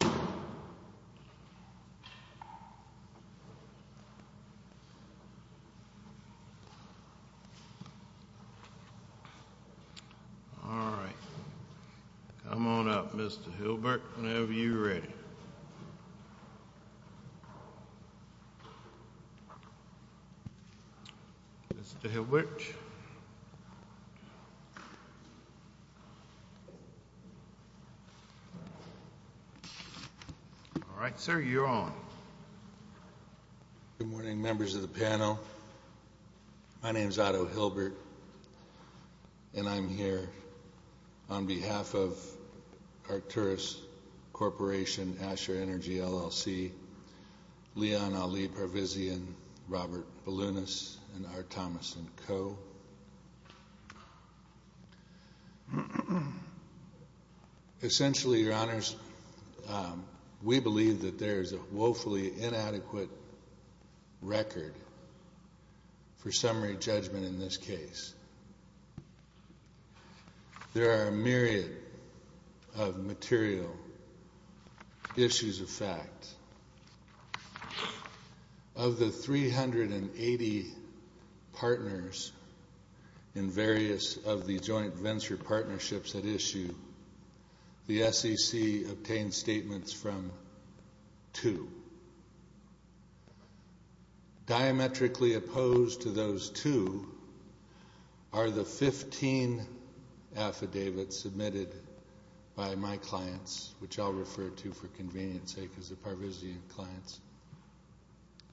All right, come on up, Mr. Hilbert, whenever you're ready. Mr. Hilbert. All right, sir, you're on. Good morning, members of the panel. My name is Otto Hilbert, and I'm here on behalf of Arcturus Corporation, Asher Energy, LLC, Leon Ali Parvizian, Robert Balunas, and R. Thomas & Co. Essentially, your honors, we believe that there is a woefully inadequate record for summary judgment in this case. There are a myriad of material issues of fact. Of the 380 partners in various of the joint venture partnerships at issue, the SEC obtained statements from two. Diametrically opposed to those two are the 15 affidavits submitted by my clients, which I'll refer to for convenience sake, as the Parvizian clients,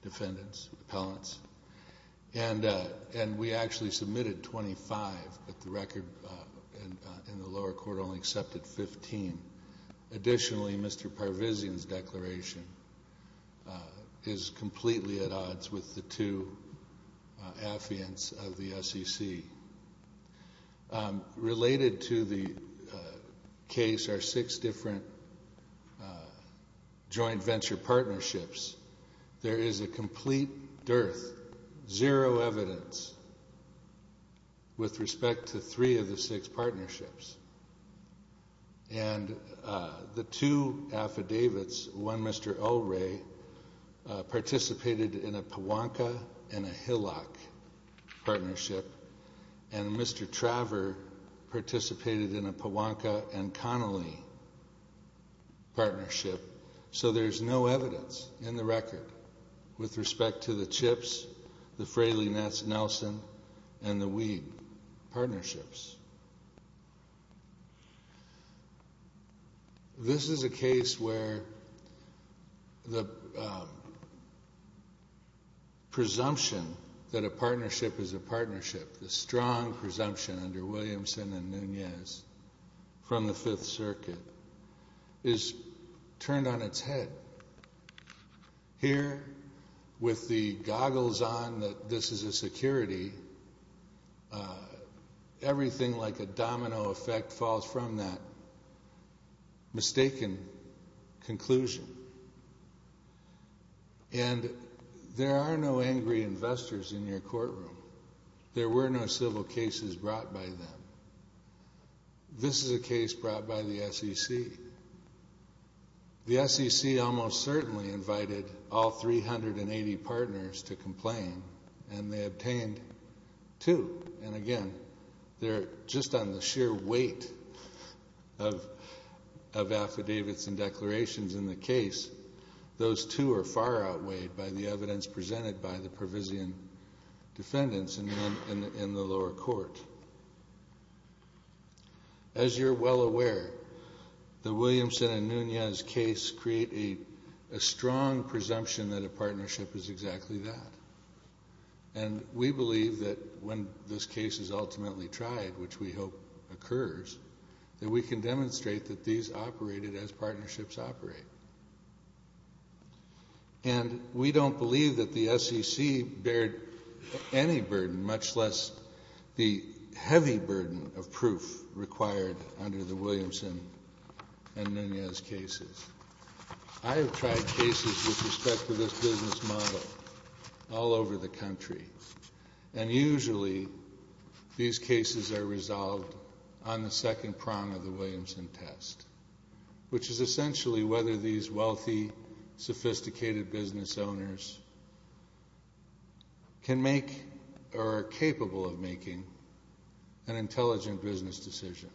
defendants, appellants. And we actually submitted 25, but the record in the lower court only accepted 15. Additionally, Mr. Parvizian's declaration is completely at odds with the two affidavits of the SEC. Related to the case are six different joint venture partnerships. There is a complete dearth, zero evidence, with respect to three of the six partnerships. And the two affidavits, one Mr. Ulrey participated in a Pawanka and a Hillock partnership, and Mr. Traver participated in a Pawanka and Connelly partnership. So there's no evidence in the record with respect to the Chips, the Fraley-Nelson, and the Weed partnerships. This is a case where the presumption that a partnership is a partnership, the strong presumption under Williamson and Nunez from the Fifth Circuit, is turned on its head. Here, with the goggles on that this is a security, everything like a domino effect falls from that mistaken conclusion. And there are no angry investors in your courtroom. There were no civil cases brought by them. This is a case brought by the SEC. The SEC almost certainly invited all 380 partners to complain, and they obtained two. And again, they're just on the sheer weight of affidavits and declarations in the case. Those two are far outweighed by the evidence presented by the provision defendants in the lower court. As you're well aware, the Williamson and Nunez case create a strong presumption that a partnership is exactly that. And we believe that when this case is ultimately tried, which we hope occurs, that we can demonstrate that these operated as partnerships operate. And we don't believe that the SEC bared any burden, much less the heavy burden of proof required under the Williamson and Nunez cases. I have tried cases with respect to this business model all over the country, and usually these cases are resolved on the second prong of the Williamson test, which is essentially whether these wealthy, sophisticated business owners can make or are capable of making an intelligent business decision.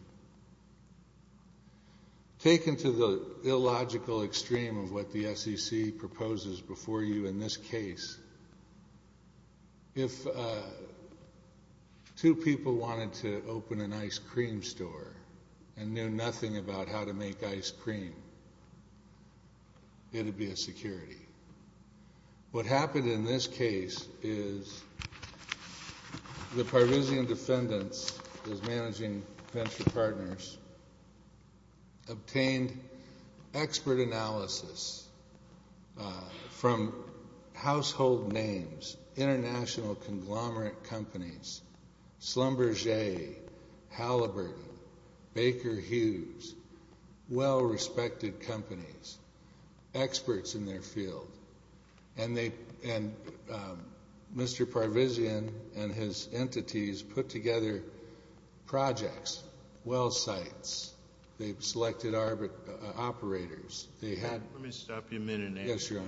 Taken to the illogical extreme of what the SEC proposes before you in this case, if two people wanted to open an ice cream store and knew nothing about how to make ice cream, it would be a security. What happened in this case is the provision defendants, those managing venture partners, obtained expert analysis from household names, international conglomerate companies, Schlumberger, Halliburton, Baker Hughes, well-respected companies, experts in their field. And Mr. Parvizian and his entities put together projects, well sites. They selected operators. Let me stop you a minute and ask you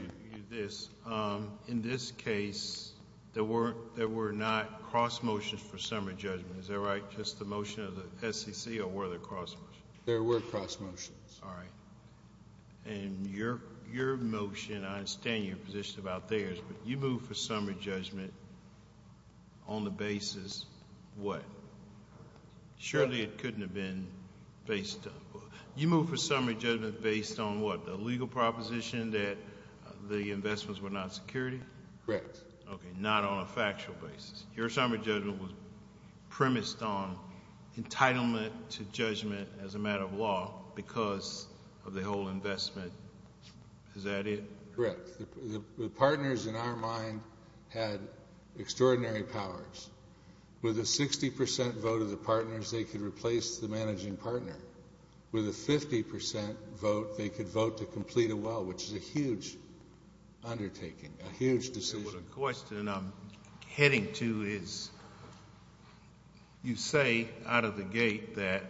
this. In this case, there were not cross motions for summary judgment. Is that right? Just the motion of the SEC or were there cross motions? There were cross motions. All right. And your motion, I understand your position about theirs, but you moved for summary judgment on the basis what? Surely it couldn't have been based on what? You moved for summary judgment based on what? A legal proposition that the investments were not security? Correct. Okay. Not on a factual basis. Your summary judgment was premised on entitlement to judgment as a matter of law because of the whole investment. Is that it? Correct. The partners in our mind had extraordinary powers. With a 60% vote of the partners, they could replace the managing partner. With a 50% vote, they could vote to complete a well, which is a huge undertaking, a huge decision. The question I'm heading to is you say out of the gate that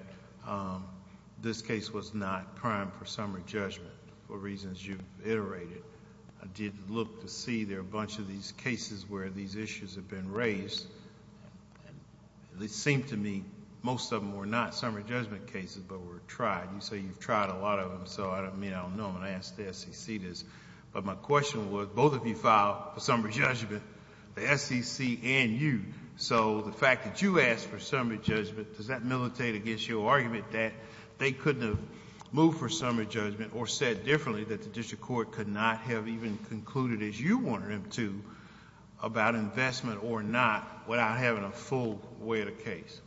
this case was not crime for summary judgment for reasons you've iterated. I did look to see there are a bunch of these cases where these issues have been raised. It seemed to me most of them were not summary judgment cases, but were tried. You say you've tried a lot of them. I don't mean I don't know when I asked the SEC this, but my question was both of you filed for summary judgment, the SEC and you. The fact that you asked for summary judgment, does that militate against your argument that they couldn't have moved for summary judgment or said differently that the district court could not have even concluded as you wanted them to about investment or not without having a full weight of case?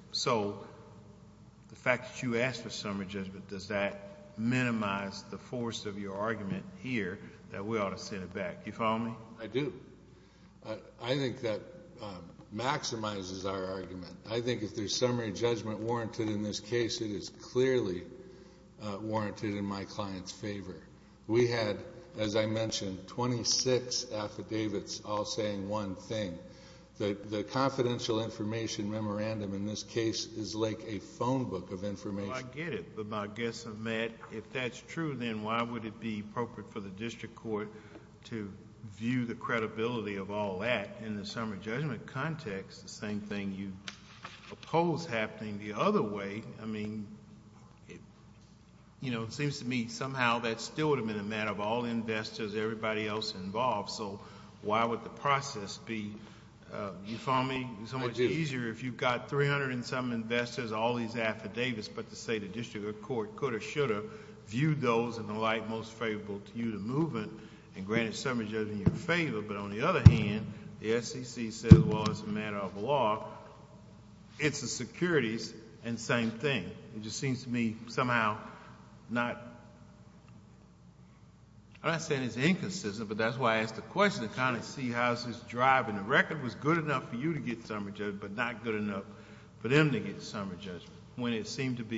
The fact that you asked for summary judgment, does that minimize the force of your argument here that we ought to send it back? Do you follow me? I do. I think that maximizes our argument. I think if there's summary judgment warranted in this case, it is clearly warranted in my client's favor. We had, as I mentioned, 26 affidavits all saying one thing. The confidential information memorandum in this case is like a phone book of information. I get it, but my guess of Matt, if that's true, then why would it be appropriate for the district court to view the credibility of all that? In the summary judgment context, the same thing you oppose happening the other way. It seems to me somehow that still would have been a matter of all investors, everybody else involved. Why would the process be, do you follow me, so much easier if you've got 300 and some investors, all these affidavits, but to say the district court could or should have viewed those and the like most favorable to you to move it and granted summary judgment in your favor. But on the other hand, the SEC says, well, it's a matter of law. It's the securities and same thing. It just seems to me somehow not... I'm not saying it's inconsistent, but that's why I asked the question. I kind of see how this is driving. The record was good enough for you to get summary judgment, but not good enough for them to get summary judgment. Well, I would say, Your Honor,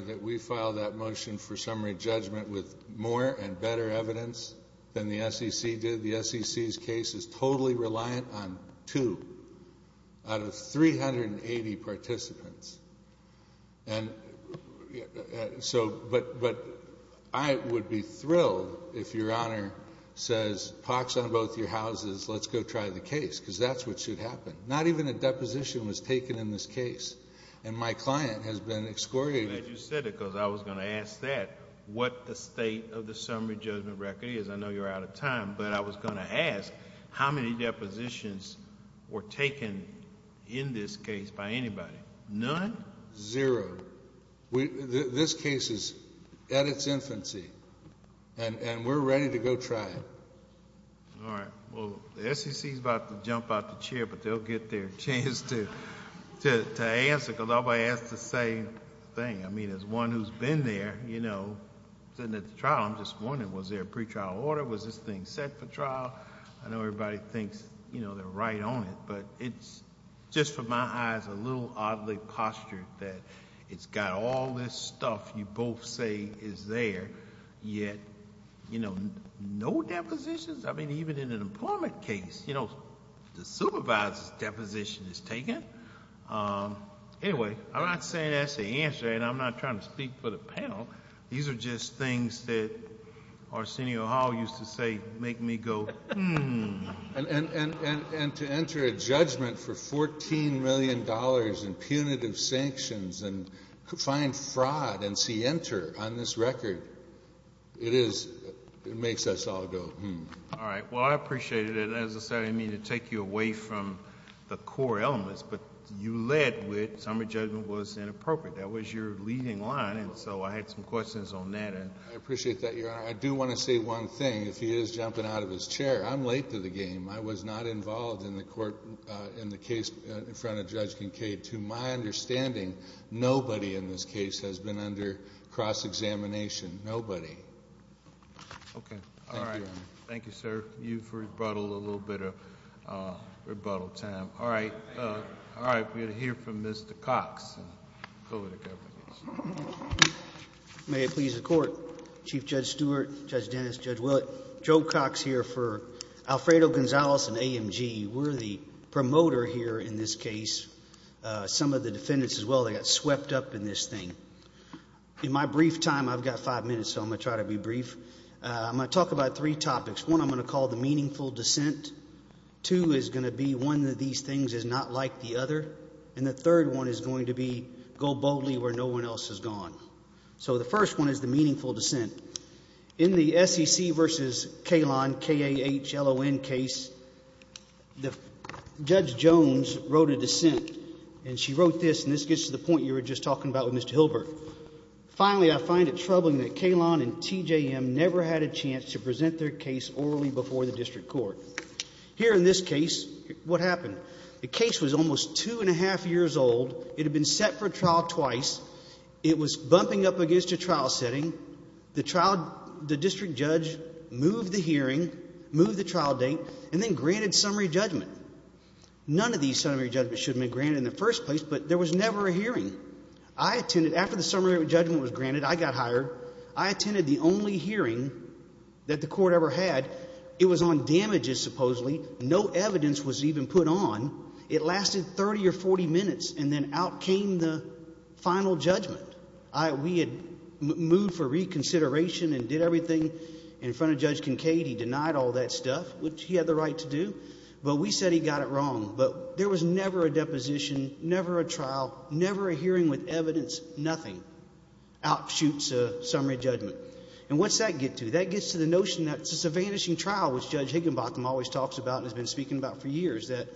that we filed that motion for summary judgment with more and better evidence than the SEC did. The SEC's case is totally reliant on two out of 380 participants. But I would be thrilled if Your Honor says, pox on both your houses, let's go try the case, because that's what should happen. Not even a deposition was taken in this case, and my client has been excoriated... I'm glad you said it because I was going to ask that, what the state of the summary judgment record is. I know you're out of time, but I was going to ask, how many depositions were taken in this case by anybody? None? Zero. This case is at its infancy, and we're ready to go try it. All right. Well, the SEC's about to jump out the chair, but they'll get their chance to answer because everybody asked the same thing. I mean, as one who's been there, sitting at the trial, I'm just wondering, was there a pretrial order? Was this thing set for trial? I know everybody thinks they're right on it, but it's, just from my eyes, a little oddly postured that it's got all this stuff you both say is there, yet no depositions? I mean, even in an employment case, the supervisor's deposition is taken. Anyway, I'm not saying that's the answer, and I'm not trying to speak for the panel. These are just things that Arsenio Hall used to say make me go, hmm. And to enter a judgment for $14 million in punitive sanctions and find fraud and see enter on this record, it makes us all go, hmm. All right. Well, I appreciated it. As I said, I didn't mean to take you away from the core elements, but you led with summary judgment was inappropriate. That was your leading line, and so I had some questions on that. I appreciate that, Your Honor. I do want to say one thing. If he is jumping out of his chair, I'm late to the game. I was not involved in the case in front of Judge Kincaid. To my understanding, nobody in this case has been under cross-examination. Nobody. Okay. All right. Thank you, Your Honor. Thank you, sir. You've rebuttaled a little bit of rebuttal time. All right. All right. We're going to hear from Mr. Cox. Go ahead. May it please the Court. Chief Judge Stewart, Judge Dennis, Judge Willett, Joe Cox here for Alfredo Gonzales and AMG. We're the promoter here in this case. Some of the defendants as well, they got swept up in this thing. In my brief time, I've got five minutes, so I'm going to try to be brief. I'm going to talk about three topics. One, I'm going to call the meaningful dissent. Two is going to be one of these things is not like the other. And the third one is going to be go boldly where no one else has gone. So the first one is the meaningful dissent. In the SEC versus Kahlon, K-A-H-L-O-N case, Judge Jones wrote a dissent. And she wrote this, and this gets to the point you were just talking about with Mr. Hilbert. Finally, I find it troubling that Kahlon and TJM never had a chance to present their case orally before the district court. Here in this case, what happened? The case was almost two and a half years old. It had been set for trial twice. It was bumping up against a trial setting. The district judge moved the hearing, moved the trial date, and then granted summary judgment. None of these summary judgments should have been granted in the first place, but there was never a hearing. I attended. After the summary judgment was granted, I got hired. I attended the only hearing that the court ever had. It was on damages, supposedly. No evidence was even put on. It lasted 30 or 40 minutes, and then out came the final judgment. We had moved for reconsideration and did everything in front of Judge Kincaid. He denied all that stuff, which he had the right to do, but we said he got it wrong. But there was never a deposition, never a trial, never a hearing with evidence, nothing. Out shoots a summary judgment. And what's that get to? That gets to the notion that it's a vanishing trial, which Judge Higginbotham always talks about and has been speaking about for years, that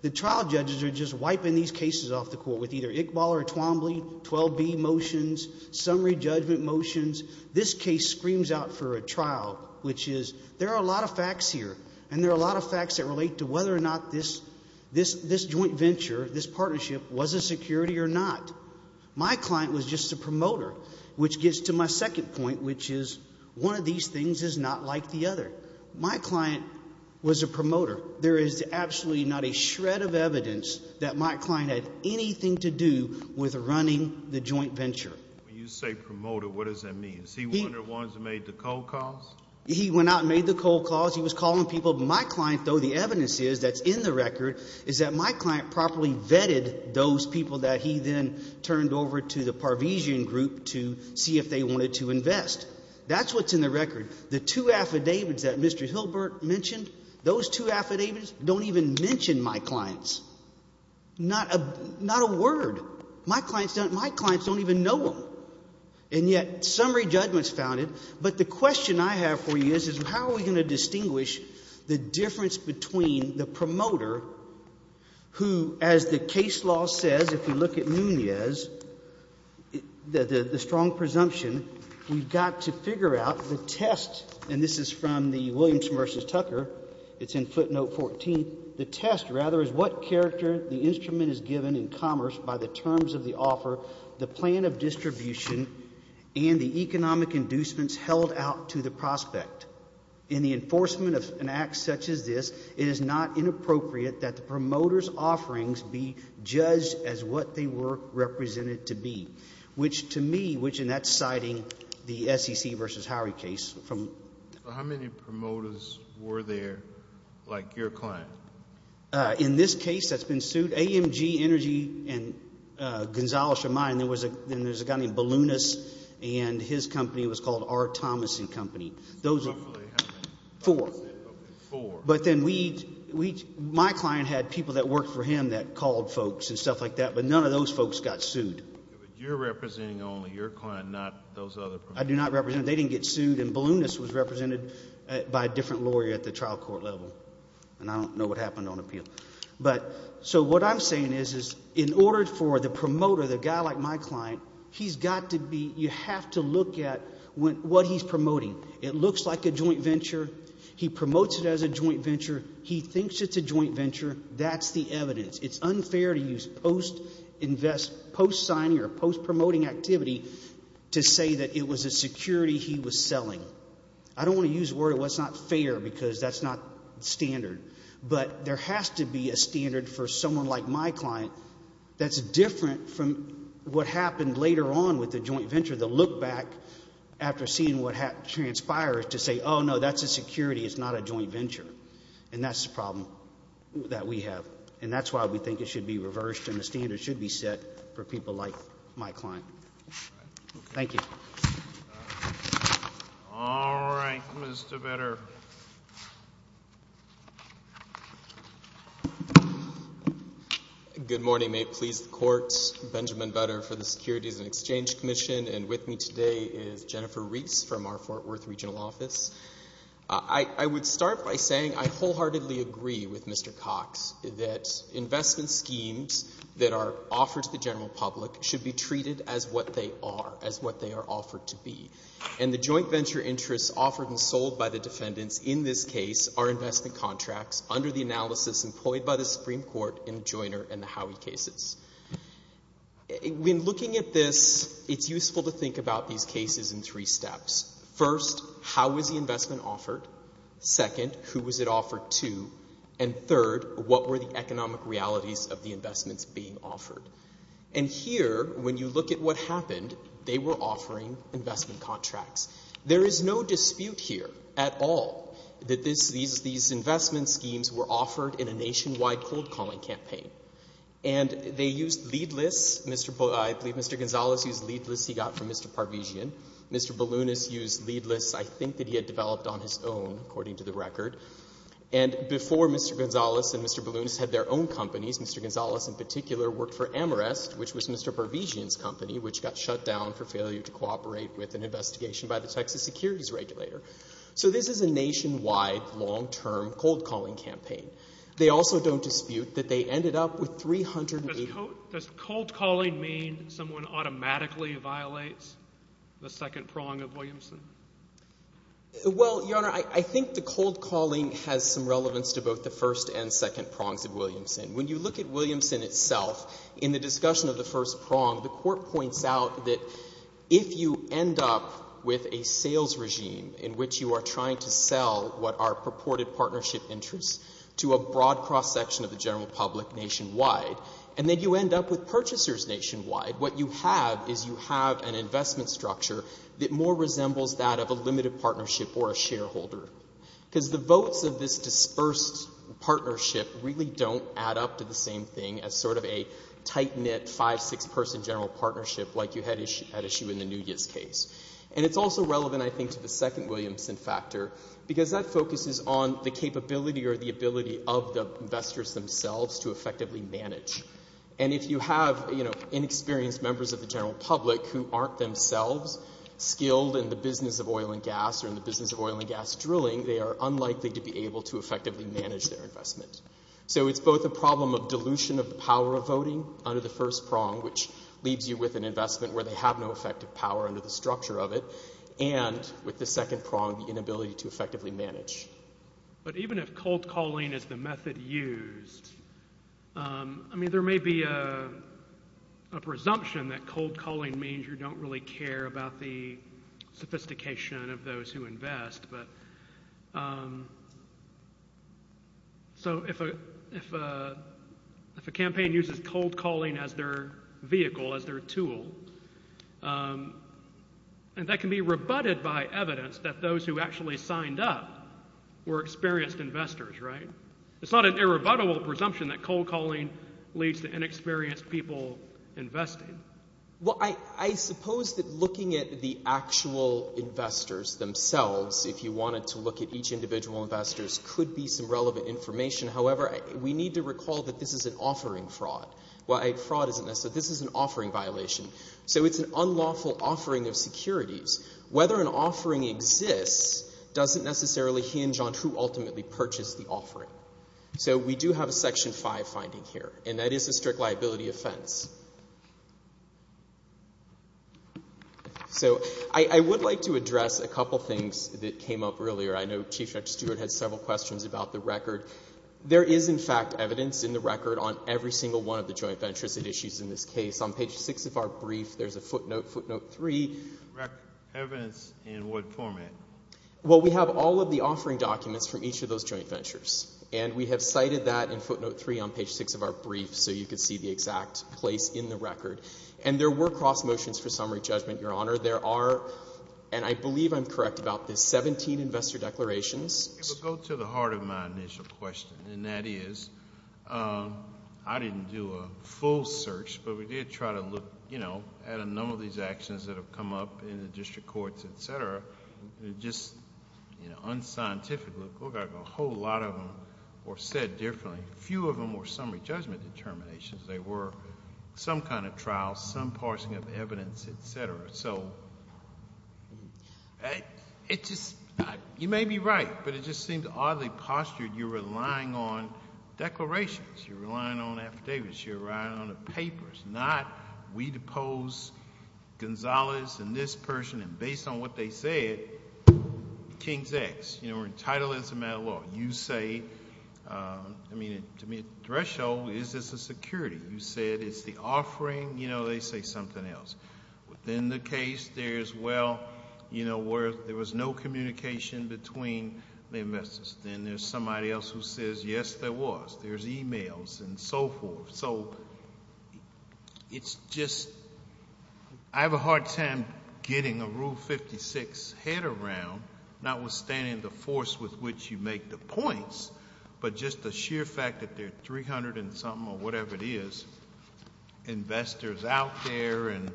the trial judges are just wiping these cases off the court with either Iqbal or Twombly, 12B motions, summary judgment motions. This case screams out for a trial, which is there are a lot of facts here, and there are a lot of facts that relate to whether or not this joint venture, this partnership, was a security or not. My client was just a promoter, which gets to my second point, which is one of these things is not like the other. My client was a promoter. There is absolutely not a shred of evidence that my client had anything to do with running the joint venture. When you say promoter, what does that mean? Is he one of the ones that made the cold calls? He went out and made the cold calls. He was calling people. My client, though, the evidence is that's in the record is that my client properly vetted those people that he then turned over to the Parvizian group to see if they wanted to invest. That's what's in the record. The two affidavits that Mr. Hilbert mentioned, those two affidavits don't even mention my clients. Not a word. My clients don't even know them. And yet summary judgment is founded. But the question I have for you is how are we going to distinguish the difference between the promoter who, as the case law says, if you look at Nunez, the strong presumption, we've got to figure out the test, and this is from the Williams v. Tucker. It's in footnote 14. The test, rather, is what character the instrument is given in commerce by the terms of the offer, the plan of distribution, and the economic inducements held out to the prospect. In the enforcement of an act such as this, it is not inappropriate that the promoter's offerings be judged as what they were represented to be, which to me, which in that citing the SEC v. Howard case. How many promoters were there like your client? In this case that's been sued, AMG Energy and Gonzales-Chamay, and there was a guy named Balunus, and his company was called R. Thomas & Company. Roughly how many? Four. Four. But then my client had people that worked for him that called folks and stuff like that, but none of those folks got sued. You're representing only your client, not those other promoters. I do not represent them. They didn't get sued, and Balunus was represented by a different lawyer at the trial court level, and I don't know what happened on appeal. So what I'm saying is in order for the promoter, the guy like my client, he's got to be, you have to look at what he's promoting. It looks like a joint venture. He promotes it as a joint venture. He thinks it's a joint venture. That's the evidence. It's unfair to use post-invest, post-signing or post-promoting activity to say that it was a security he was selling. I don't want to use the word, well, it's not fair because that's not standard, but there has to be a standard for someone like my client that's different from what happened later on with the joint venture, the look back after seeing what transpired to say, oh, no, that's a security. It's not a joint venture, and that's the problem that we have, and that's why we think it should be reversed and the standard should be set for people like my client. Thank you. All right. Mr. Butter. Good morning. May it please the Court. Benjamin Butter for the Securities and Exchange Commission, and with me today is Jennifer Reese from our Fort Worth regional office. I would start by saying I wholeheartedly agree with Mr. Cox that investment schemes that are offered to the general public should be treated as what they are, as what they are offered to be, and the joint venture interests offered and sold by the defendants in this case are investment contracts under the analysis employed by the Supreme Court in the Joyner and the Howey cases. When looking at this, it's useful to think about these cases in three steps. First, how was the investment offered? Second, who was it offered to? And third, what were the economic realities of the investments being offered? And here, when you look at what happened, they were offering investment contracts. There is no dispute here at all that these investment schemes were offered in a nationwide cold calling campaign, and they used lead lists. I believe Mr. Gonzalez used lead lists he got from Mr. Parvizian. Mr. Balunas used lead lists I think that he had developed on his own, according to the record. And before Mr. Gonzalez and Mr. Balunas had their own companies, Mr. Gonzalez in particular worked for Amarest, which was Mr. Parvizian's company, which got shut down for failure to cooperate with an investigation by the Texas securities regulator. So this is a nationwide long-term cold calling campaign. They also don't dispute that they ended up with 380— Does cold calling mean someone automatically violates the second prong of Williamson? Well, Your Honor, I think the cold calling has some relevance to both the first and second prongs of Williamson. When you look at Williamson itself, in the discussion of the first prong, the Court points out that if you end up with a sales regime in which you are trying to sell what are purported partnership interests to a broad cross-section of the general public nationwide, and then you end up with purchasers nationwide, what you have is you have an investment structure that more resembles that of a limited partnership or a shareholder. Because the votes of this dispersed partnership really don't add up to the same thing as sort of a tight-knit five-, six-person general partnership like you had at issue in the Nunez case. And it's also relevant I think to the second Williamson factor, because that focuses on the capability or the ability of the investors themselves to effectively manage. And if you have, you know, inexperienced members of the general public who aren't themselves skilled in the business of oil and gas or in the business of oil and gas drilling, they are unlikely to be able to effectively manage their investment. So it's both a problem of dilution of the power of voting under the first prong, which leaves you with an investment where they have no effective power under the structure of it, and with the second prong, the inability to effectively manage. But even if cold calling is the method used, I mean there may be a presumption that cold calling means you don't really care about the sophistication of those who invest. But so if a campaign uses cold calling as their vehicle, as their tool, and that can be rebutted by evidence that those who actually signed up were experienced investors, right? It's not an irrebuttable presumption that cold calling leads to inexperienced people investing. Well, I suppose that looking at the actual investors themselves, if you wanted to look at each individual investors, could be some relevant information. However, we need to recall that this is an offering fraud. Well, fraud isn't necessarily, this is an offering violation. So it's an unlawful offering of securities. Whether an offering exists doesn't necessarily hinge on who ultimately purchased the offering. So we do have a Section 5 finding here, and that is a strict liability offense. So I would like to address a couple things that came up earlier. I know Chief Justice Stewart had several questions about the record. There is, in fact, evidence in the record on every single one of the joint ventures at issues in this case. On page 6 of our brief, there's a footnote, footnote 3. Evidence in what format? Well, we have all of the offering documents from each of those joint ventures, and we have cited that in footnote 3 on page 6 of our brief so you can see the exact place in the record. And there were cross motions for summary judgment, Your Honor. There are, and I believe I'm correct about this, 17 investor declarations. It would go to the heart of my initial question, and that is I didn't do a full search, but we did try to look at a number of these actions that have come up in the district courts, et cetera. Just unscientifically, look at a whole lot of them were said differently. A few of them were summary judgment determinations. They were some kind of trial, some parsing of evidence, et cetera. So, it just, you may be right, but it just seemed oddly postured. You're relying on declarations. You're relying on affidavits. You're relying on the papers, not we depose Gonzalez and this person, and based on what they said, King's X. You know, we're entitled as a matter of law. You say, I mean, to me, a threshold, is this a security? You said it's the offering. You know, they say something else. Within the case, there's, well, you know, where there was no communication between the investors. Then there's somebody else who says, yes, there was. There's e-mails and so forth. So, it's just, I have a hard time getting a Rule 56 head around, notwithstanding the force with which you make the points, but just the sheer fact that there are 300 and something or whatever it is, investors out there and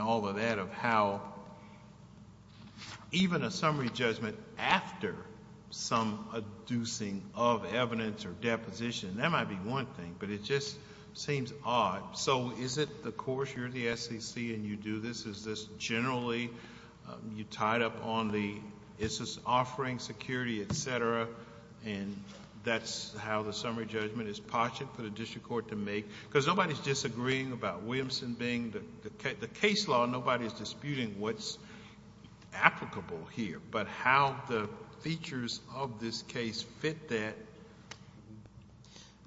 all of that, of how even a summary judgment after some adducing of evidence or deposition, that might be one thing, but it just seems odd. So, is it the course? You're the SEC and you do this. Is this generally, you tied up on the, is this offering security, et cetera, and that's how the summary judgment is posited for the district court to make? Because nobody's disagreeing about Williamson being the case law. Nobody's disputing what's applicable here, but how the features of this case fit that.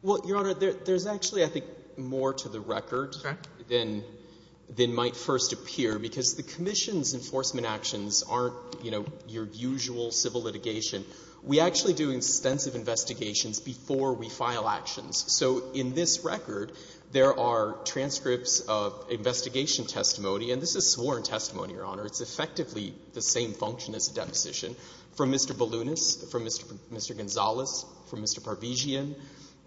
Well, Your Honor, there's actually, I think, more to the record than might first appear, because the Commission's enforcement actions aren't, you know, your usual civil litigation. We actually do extensive investigations before we file actions. So, in this record, there are transcripts of investigation testimony, and this is sworn testimony, Your Honor. It's effectively the same function as a deposition from Mr. Balunis, from Mr. Gonzales, from Mr. Parvizian.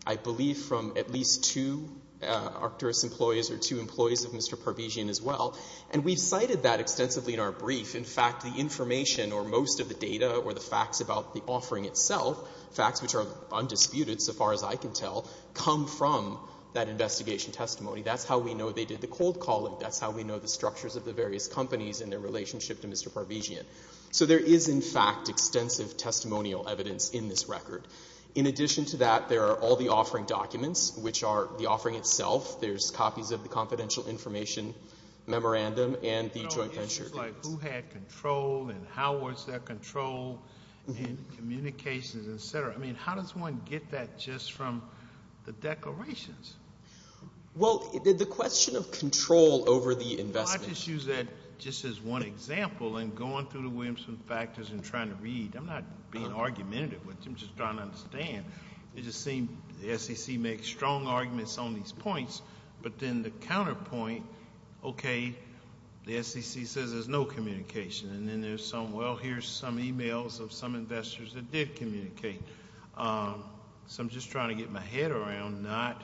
I believe from at least two Arcturus employees or two employees of Mr. Parvizian as well. And we've cited that extensively in our brief. In fact, the information or most of the data or the facts about the offering itself, facts which are undisputed so far as I can tell, come from that investigation testimony. That's how we know they did the cold calling. That's how we know the structures of the various companies and their relationship to Mr. Parvizian. So there is, in fact, extensive testimonial evidence in this record. In addition to that, there are all the offering documents, which are the offering itself. There's copies of the confidential information memorandum and the joint venture case. You know, issues like who had control and how was there control and communications, et cetera. I mean, how does one get that just from the declarations? Well, the question of control over the investment. Well, I just use that just as one example in going through the Williamson factors and trying to read. I'm not being argumentative with you. I'm just trying to understand. It just seems the SEC makes strong arguments on these points, but then the counterpoint, okay, the SEC says there's no communication. And then there's some, well, here's some e-mails of some investors that did communicate. So I'm just trying to get my head around not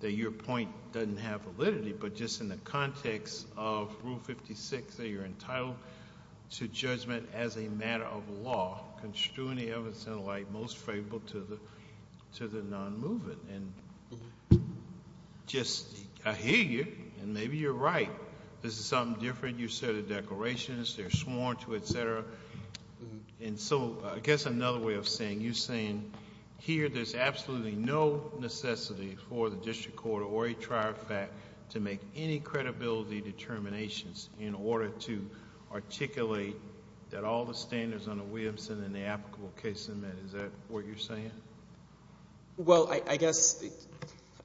that your point doesn't have validity, but just in the context of Rule 56 that you're entitled to judgment as a matter of law, construing the evidence in a way most favorable to the non-moving. And just I hear you, and maybe you're right. This is something different. And so I guess another way of saying, you're saying here there's absolutely no necessity for the district court or a trier fact to make any credibility determinations in order to articulate that all the standards under Williamson and the applicable case amendment, is that what you're saying? Well, I guess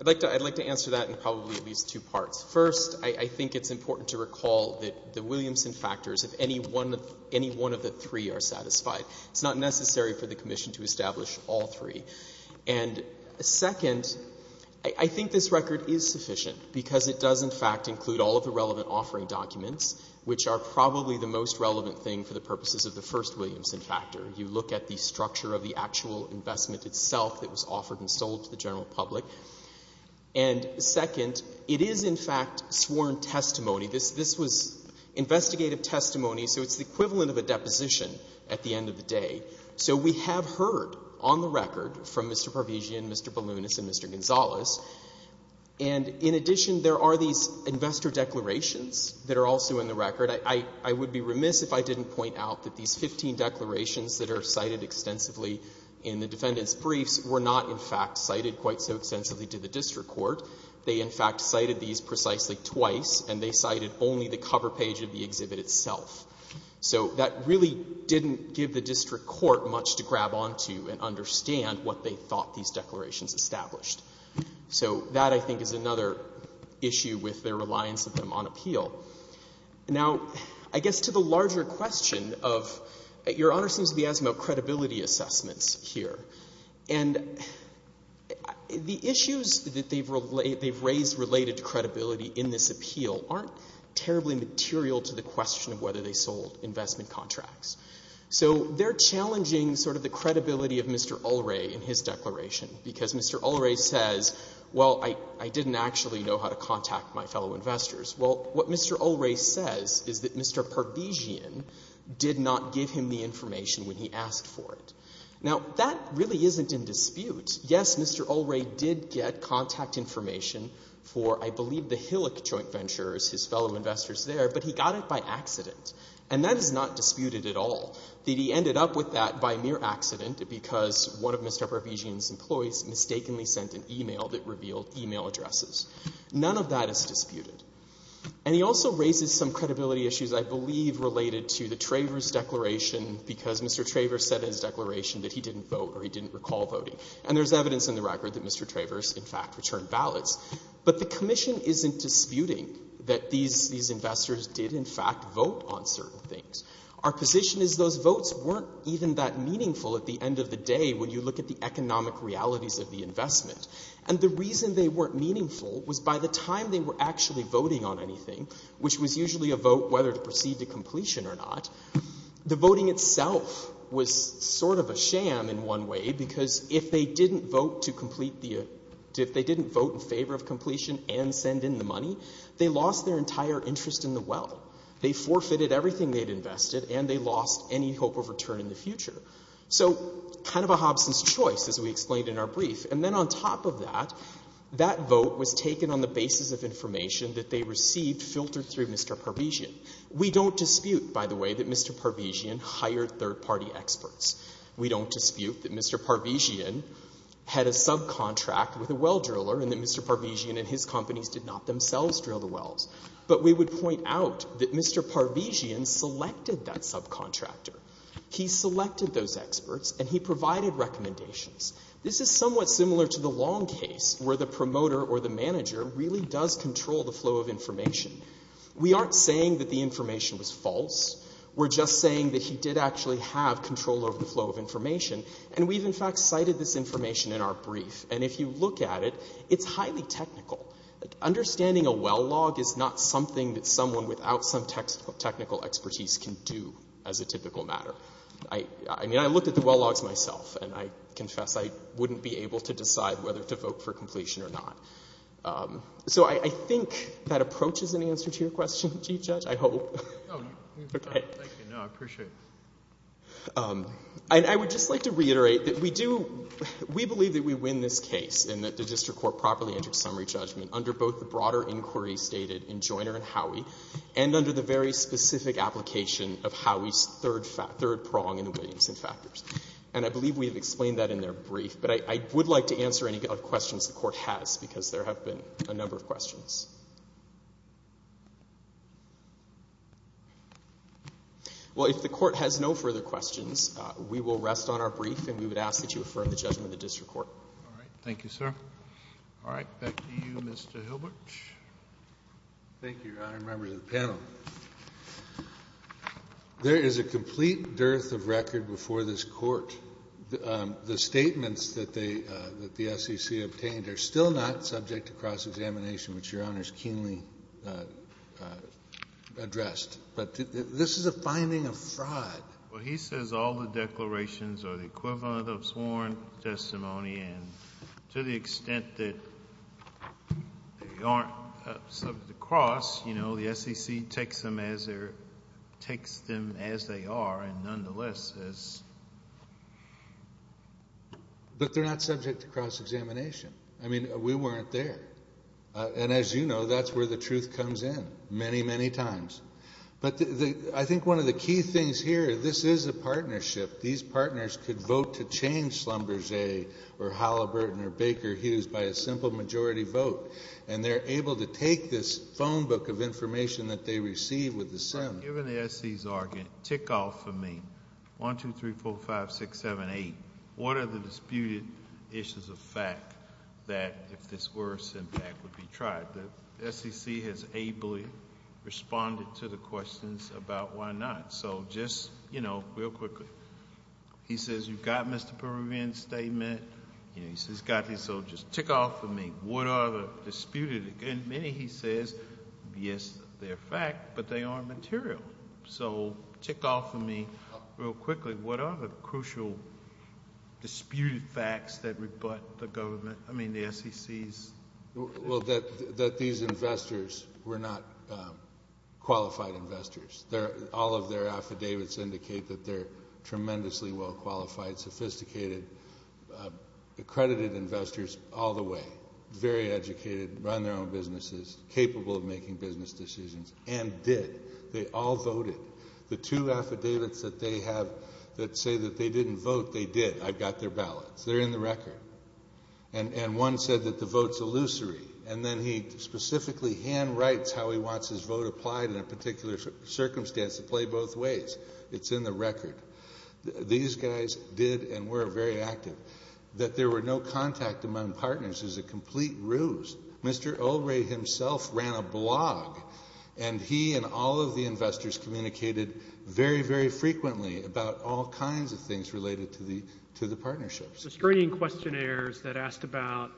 I'd like to answer that in probably at least two parts. First, I think it's important to recall that the Williamson factors, if any one of the three are satisfied, it's not necessary for the commission to establish all three. And second, I think this record is sufficient because it does in fact include all of the relevant offering documents, which are probably the most relevant thing for the purposes of the first Williamson factor. You look at the structure of the actual investment itself that was offered and sold to the general public. And second, it is in fact sworn testimony. This was investigative testimony, so it's the equivalent of a deposition at the end of the day. So we have heard on the record from Mr. Parvizian, Mr. Balunas, and Mr. Gonzalez. And in addition, there are these investor declarations that are also in the record. I would be remiss if I didn't point out that these 15 declarations that are cited extensively in the defendant's briefs were not in fact cited quite so extensively to the district court. They in fact cited these precisely twice, and they cited only the cover page of the exhibit itself. So that really didn't give the district court much to grab onto and understand what they thought these declarations established. So that, I think, is another issue with their reliance on them on appeal. Now, I guess to the larger question of your Honor seems to be asking about credibility assessments here. And the issues that they've raised related to credibility in this appeal aren't terribly material to the question of whether they sold investment contracts. So they're challenging sort of the credibility of Mr. Ulrey in his declaration, because Mr. Ulrey says, well, I didn't actually know how to contact my fellow investors. Well, what Mr. Ulrey says is that Mr. Parvizian did not give him the information when he asked for it. Now, that really isn't in dispute. Yes, Mr. Ulrey did get contact information for, I believe, the Hillock Joint Ventures, his fellow investors there, but he got it by accident. And that is not disputed at all, that he ended up with that by mere accident because one of Mr. Parvizian's employees mistakenly sent an e-mail that revealed e-mail addresses. None of that is disputed. And he also raises some credibility issues, I believe, related to the Travers declaration, because Mr. Travers said in his declaration that he didn't vote or he didn't recall voting. And there's evidence in the record that Mr. Travers, in fact, returned ballots. But the Commission isn't disputing that these investors did, in fact, vote on certain things. Our position is those votes weren't even that meaningful at the end of the day when you look at the economic realities of the investment. And the reason they weren't meaningful was by the time they were actually voting on anything, which was usually a vote whether to proceed to completion or not, the voting itself was sort of a sham in one way because if they didn't vote in favor of completion and send in the money, they lost their entire interest in the well. They forfeited everything they'd invested, and they lost any hope of return in the future. So kind of a Hobson's choice, as we explained in our brief. And then on top of that, that vote was taken on the basis of information that they received filtered through Mr. Parvizian. We don't dispute, by the way, that Mr. Parvizian hired third-party experts. We don't dispute that Mr. Parvizian had a subcontract with a well driller and that Mr. Parvizian and his companies did not themselves drill the wells. But we would point out that Mr. Parvizian selected that subcontractor. He selected those experts, and he provided recommendations. This is somewhat similar to the long case where the promoter or the manager really does control the flow of information. We aren't saying that the information was false. We're just saying that he did actually have control over the flow of information, and we've in fact cited this information in our brief. And if you look at it, it's highly technical. Understanding a well log is not something that someone without some technical expertise can do as a typical matter. I mean, I looked at the well logs myself, and I confess I wouldn't be able to decide whether to vote for completion or not. So I think that approaches an answer to your question, Chief Judge, I hope. Thank you. No, I appreciate it. And I would just like to reiterate that we do – we believe that we win this case in that the district court properly entered summary judgment under both the broader inquiry stated in Joiner and Howey and under the very specific application of Howey's third prong in the Williamson factors. And I believe we have explained that in their brief, but I would like to answer any questions the court has because there have been a number of questions. Well, if the court has no further questions, we will rest on our brief, and we would ask that you affirm the judgment of the district court. All right. Thank you, sir. All right. Back to you, Mr. Hilbert. Thank you, Your Honor and members of the panel. There is a complete dearth of record before this court. The statements that the SEC obtained are still not subject to cross-examination, which Your Honor has keenly addressed. But this is a finding of fraud. Well, he says all the declarations are the equivalent of sworn testimony and to the extent that they aren't subject to cross, you know, the SEC takes them as they are and nonetheless is. But they're not subject to cross-examination. I mean, we weren't there. And as you know, that's where the truth comes in many, many times. But I think one of the key things here, this is a partnership. These partners could vote to change Schlumberger or Halliburton or Baker Hughes by a simple majority vote, and they're able to take this phone book of information that they received with the SIM. Given the SEC's argument, tick off for me 1, 2, 3, 4, 5, 6, 7, 8. What are the disputed issues of fact that if this were a SIM pact would be tried? The SEC has ably responded to the questions about why not. So just, you know, real quickly. He says you've got Mr. Peruvian's statement. He says he's got his. So just tick off for me. What are the disputed? Many, he says, yes, they're fact, but they aren't material. So tick off for me real quickly. What are the crucial disputed facts that rebut the government? I mean, the SEC's. Well, that these investors were not qualified investors. All of their affidavits indicate that they're tremendously well-qualified, sophisticated, accredited investors all the way, very educated, run their own businesses, capable of making business decisions, and did. They all voted. The two affidavits that they have that say that they didn't vote, they did. I've got their ballots. They're in the record. And one said that the vote's illusory, and then he specifically handwrites how he wants his vote applied in a particular circumstance to play both ways. It's in the record. These guys did and were very active. That there were no contact among partners is a complete ruse. Mr. O'Reilly himself ran a blog, and he and all of the investors communicated very, very frequently about all kinds of things related to the partnerships. The screening questionnaires that asked about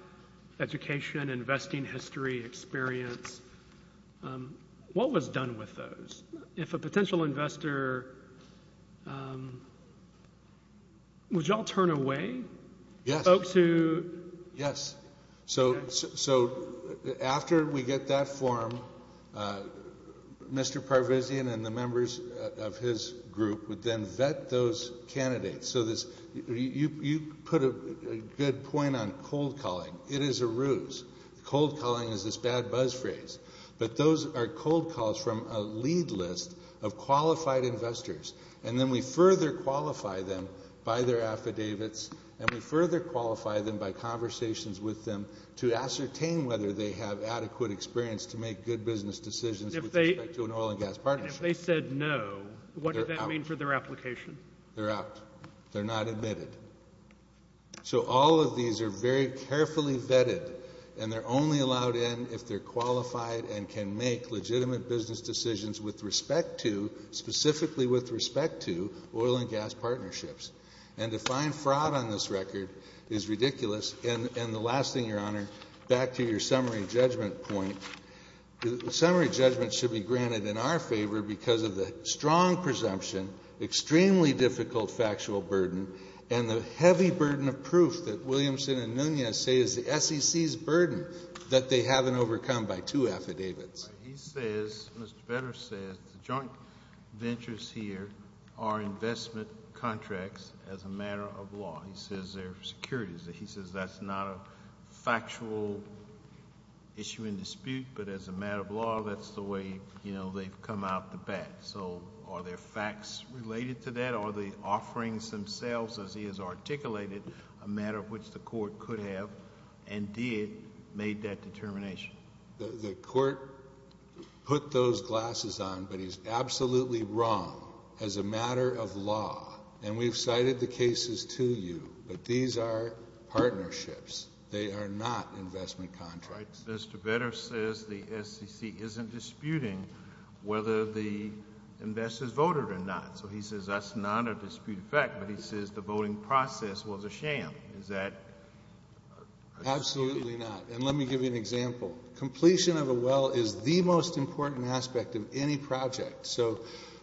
education, investing history, experience, what was done with those? If a potential investor – would you all turn away? Yes. Folks who – Yes. So after we get that form, Mr. Parvizian and the members of his group would then vet those candidates. You put a good point on cold calling. It is a ruse. Cold calling is this bad buzz phrase. But those are cold calls from a lead list of qualified investors, and then we further qualify them by their affidavits, and we further qualify them by conversations with them to ascertain whether they have adequate experience to make good business decisions with respect to an oil and gas partnership. And if they said no, what does that mean for their application? They're out. They're not admitted. So all of these are very carefully vetted, and they're only allowed in if they're qualified and can make legitimate business decisions with respect to, specifically with respect to, oil and gas partnerships. And to find fraud on this record is ridiculous. And the last thing, Your Honor, back to your summary judgment point. The summary judgment should be granted in our favor because of the strong presumption, extremely difficult factual burden, and the heavy burden of proof that Williamson and Nunez say is the SEC's burden that they haven't overcome by two affidavits. He says, Mr. Vedder says, the joint ventures here are investment contracts as a matter of law. He says they're securities. He says that's not a factual issue in dispute, but as a matter of law, that's the way, you know, they've come out to bat. So are there facts related to that? Are the offerings themselves, as he has articulated, a matter of which the court could have and did make that determination? The court put those glasses on, but he's absolutely wrong as a matter of law. And we've cited the cases to you, but these are partnerships. They are not investment contracts. Mr. Vedder says the SEC isn't disputing whether the investors voted or not. So he says that's not a dispute of fact, but he says the voting process was a sham. Is that a dispute? Absolutely not. And let me give you an example. Completion of a well is the most important aspect of any project. So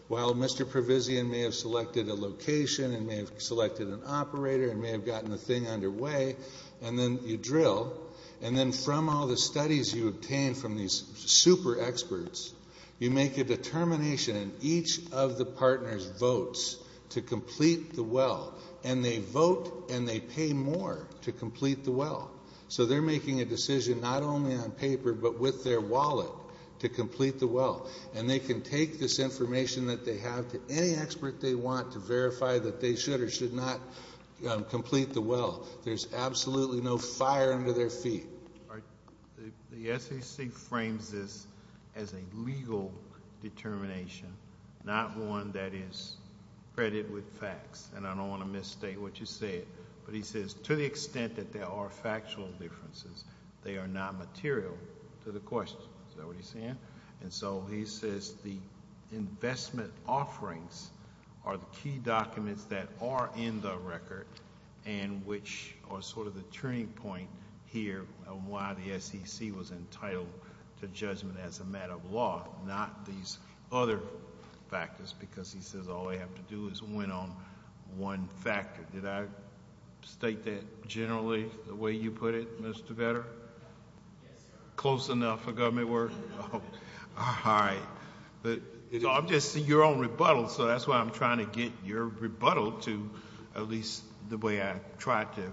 while Mr. Provisian may have selected a location and may have selected an operator and may have gotten the thing underway, and then you drill, and then from all the studies you obtain from these super experts, you make a determination, and each of the partners votes to complete the well. And they vote and they pay more to complete the well. So they're making a decision not only on paper but with their wallet to complete the well. And they can take this information that they have to any expert they want to verify that they should or should not complete the well. There's absolutely no fire under their feet. The SEC frames this as a legal determination, not one that is credited with facts. And I don't want to misstate what you said, but he says to the extent that there are factual differences, they are not material to the question. Is that what he's saying? And so he says the investment offerings are the key documents that are in the record and which are sort of the turning point here on why the SEC was entitled to judgment as a matter of law, not these other factors, because he says all they have to do is win on one factor. Did I state that generally the way you put it, Mr. Vetter? Yes, sir. Close enough for government work? All right. I'm just seeing your own rebuttal, so that's why I'm trying to get your rebuttal to at least the way I tried to,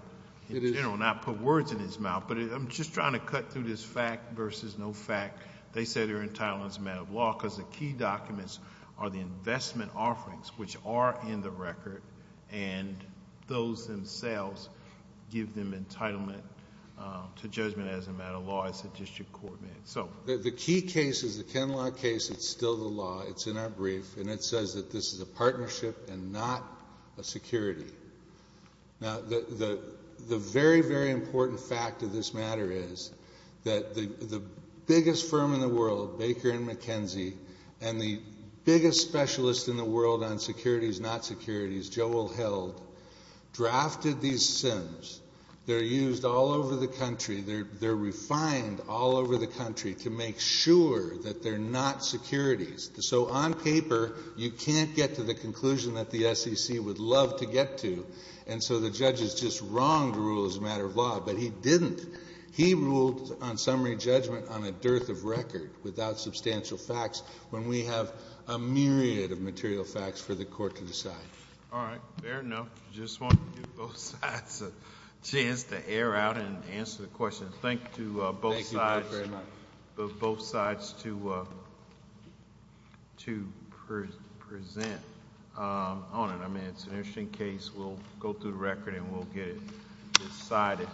in general, not put words in his mouth. But I'm just trying to cut through this fact versus no fact. They say they're entitled as a matter of law because the key documents are the investment offerings, which are in the record, and those themselves give them entitlement to judgment as a matter of law. The key case is the Kenlog case. It's still the law. It's in our brief, and it says that this is a partnership and not a security. Now, the very, very important fact of this matter is that the biggest firm in the world, Baker & McKenzie, and the biggest specialist in the world on securities, not securities, Joel Held, drafted these SINs. They're used all over the country. They're refined all over the country to make sure that they're not securities. So on paper, you can't get to the conclusion that the SEC would love to get to, and so the judge is just wrong to rule as a matter of law, but he didn't. He ruled on summary judgment on a dearth of record without substantial facts when we have a myriad of material facts for the court to decide. All right. Fair enough. Just wanted to give both sides a chance to air out and answer the questions. Thank you both sides. Thank you both very much. Both sides to present on it. I mean, it's an interesting case. We'll go through the record, and we'll get it decided.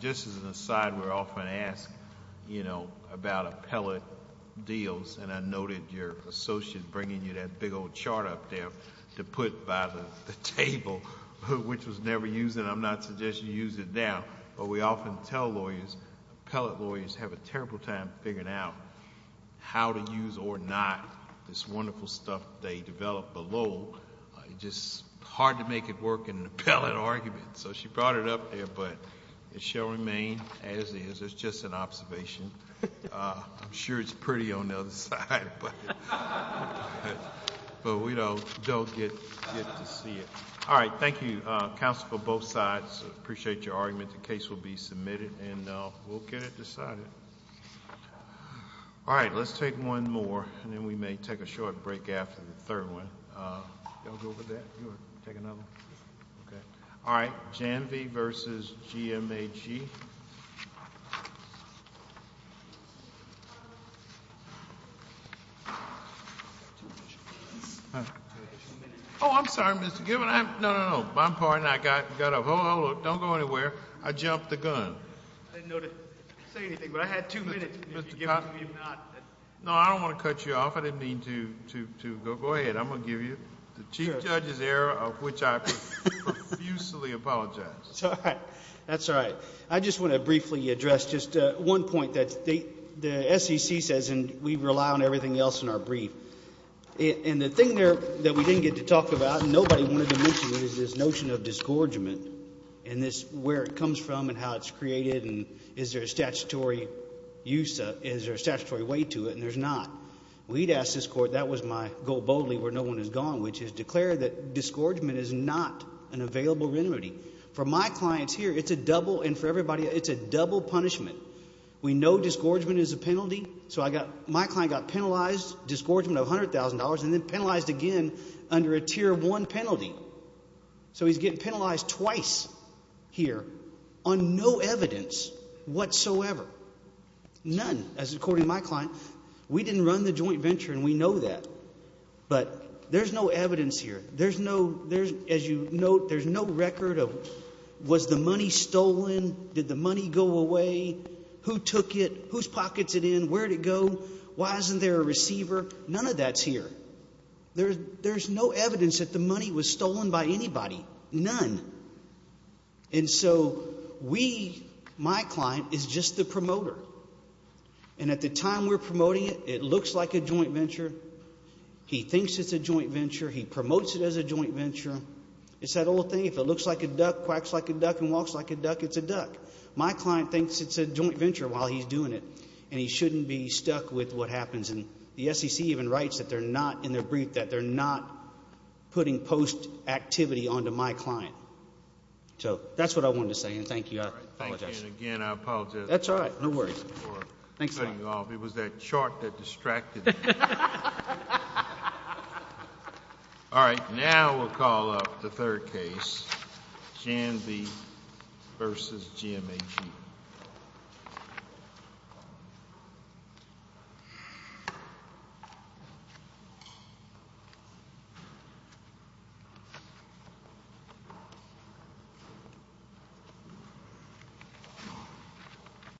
Just as an aside, we're often asked about appellate deals, and I noted your associate bringing you that big old chart up there to put by the table, which was never used, and I'm not suggesting you use it now, but we often tell lawyers, appellate lawyers have a terrible time figuring out how to use or not this wonderful stuff they developed below. It's just hard to make it work in an appellate argument. So she brought it up there, but it shall remain as is. It's just an observation. I'm sure it's pretty on the other side, but we don't get to see it. All right. Thank you, counsel, for both sides. I appreciate your argument. The case will be submitted, and we'll get it decided. All right. Let's take one more, and then we may take a short break after the third one. You all good with that? You want to take another one? Okay. All right. Janvey v. GMAG. Oh, I'm sorry, Mr. Gibbons. No, no, no. I'm pardoned. I got up. Hold on. Don't go anywhere. I jumped the gun. I didn't know to say anything, but I had two minutes. Mr. Cobb. No, I don't want to cut you off. I didn't mean to. Go ahead. I'm going to give you the chief judge's error, of which I profusely apologize. That's all right. That's all right. I just want to briefly address just one point that the SEC says, and we rely on everything else in our brief. And the thing there that we didn't get to talk about, and nobody wanted to mention it, is this notion of disgorgement, and where it comes from and how it's created, and is there a statutory way to it, and there's not. We'd ask this court, that was my goal boldly where no one has gone, which is declare that disgorgement is not an available remedy. For my clients here, it's a double, and for everybody, it's a double punishment. We know disgorgement is a penalty. So my client got penalized, disgorgement of $100,000, and then penalized again under a tier one penalty. So he's getting penalized twice here on no evidence whatsoever. None. As according to my client, we didn't run the joint venture, and we know that. But there's no evidence here. As you note, there's no record of was the money stolen? Did the money go away? Who took it? Whose pocket is it in? Where did it go? Why isn't there a receiver? None of that's here. There's no evidence that the money was stolen by anybody. None. And so we, my client, is just the promoter. And at the time we're promoting it, it looks like a joint venture. He thinks it's a joint venture. He promotes it as a joint venture. It's that old thing, if it looks like a duck, quacks like a duck, and walks like a duck, it's a duck. My client thinks it's a joint venture while he's doing it, and he shouldn't be stuck with what happens. And the SEC even writes that they're not in their brief, that they're not putting post activity onto my client. So that's what I wanted to say, and thank you. I apologize. Thank you, and again, I apologize. That's all right. No worries. Thanks a lot. It was that chart that distracted me. All right. Now we'll call up the third case, Janby v. GMAG.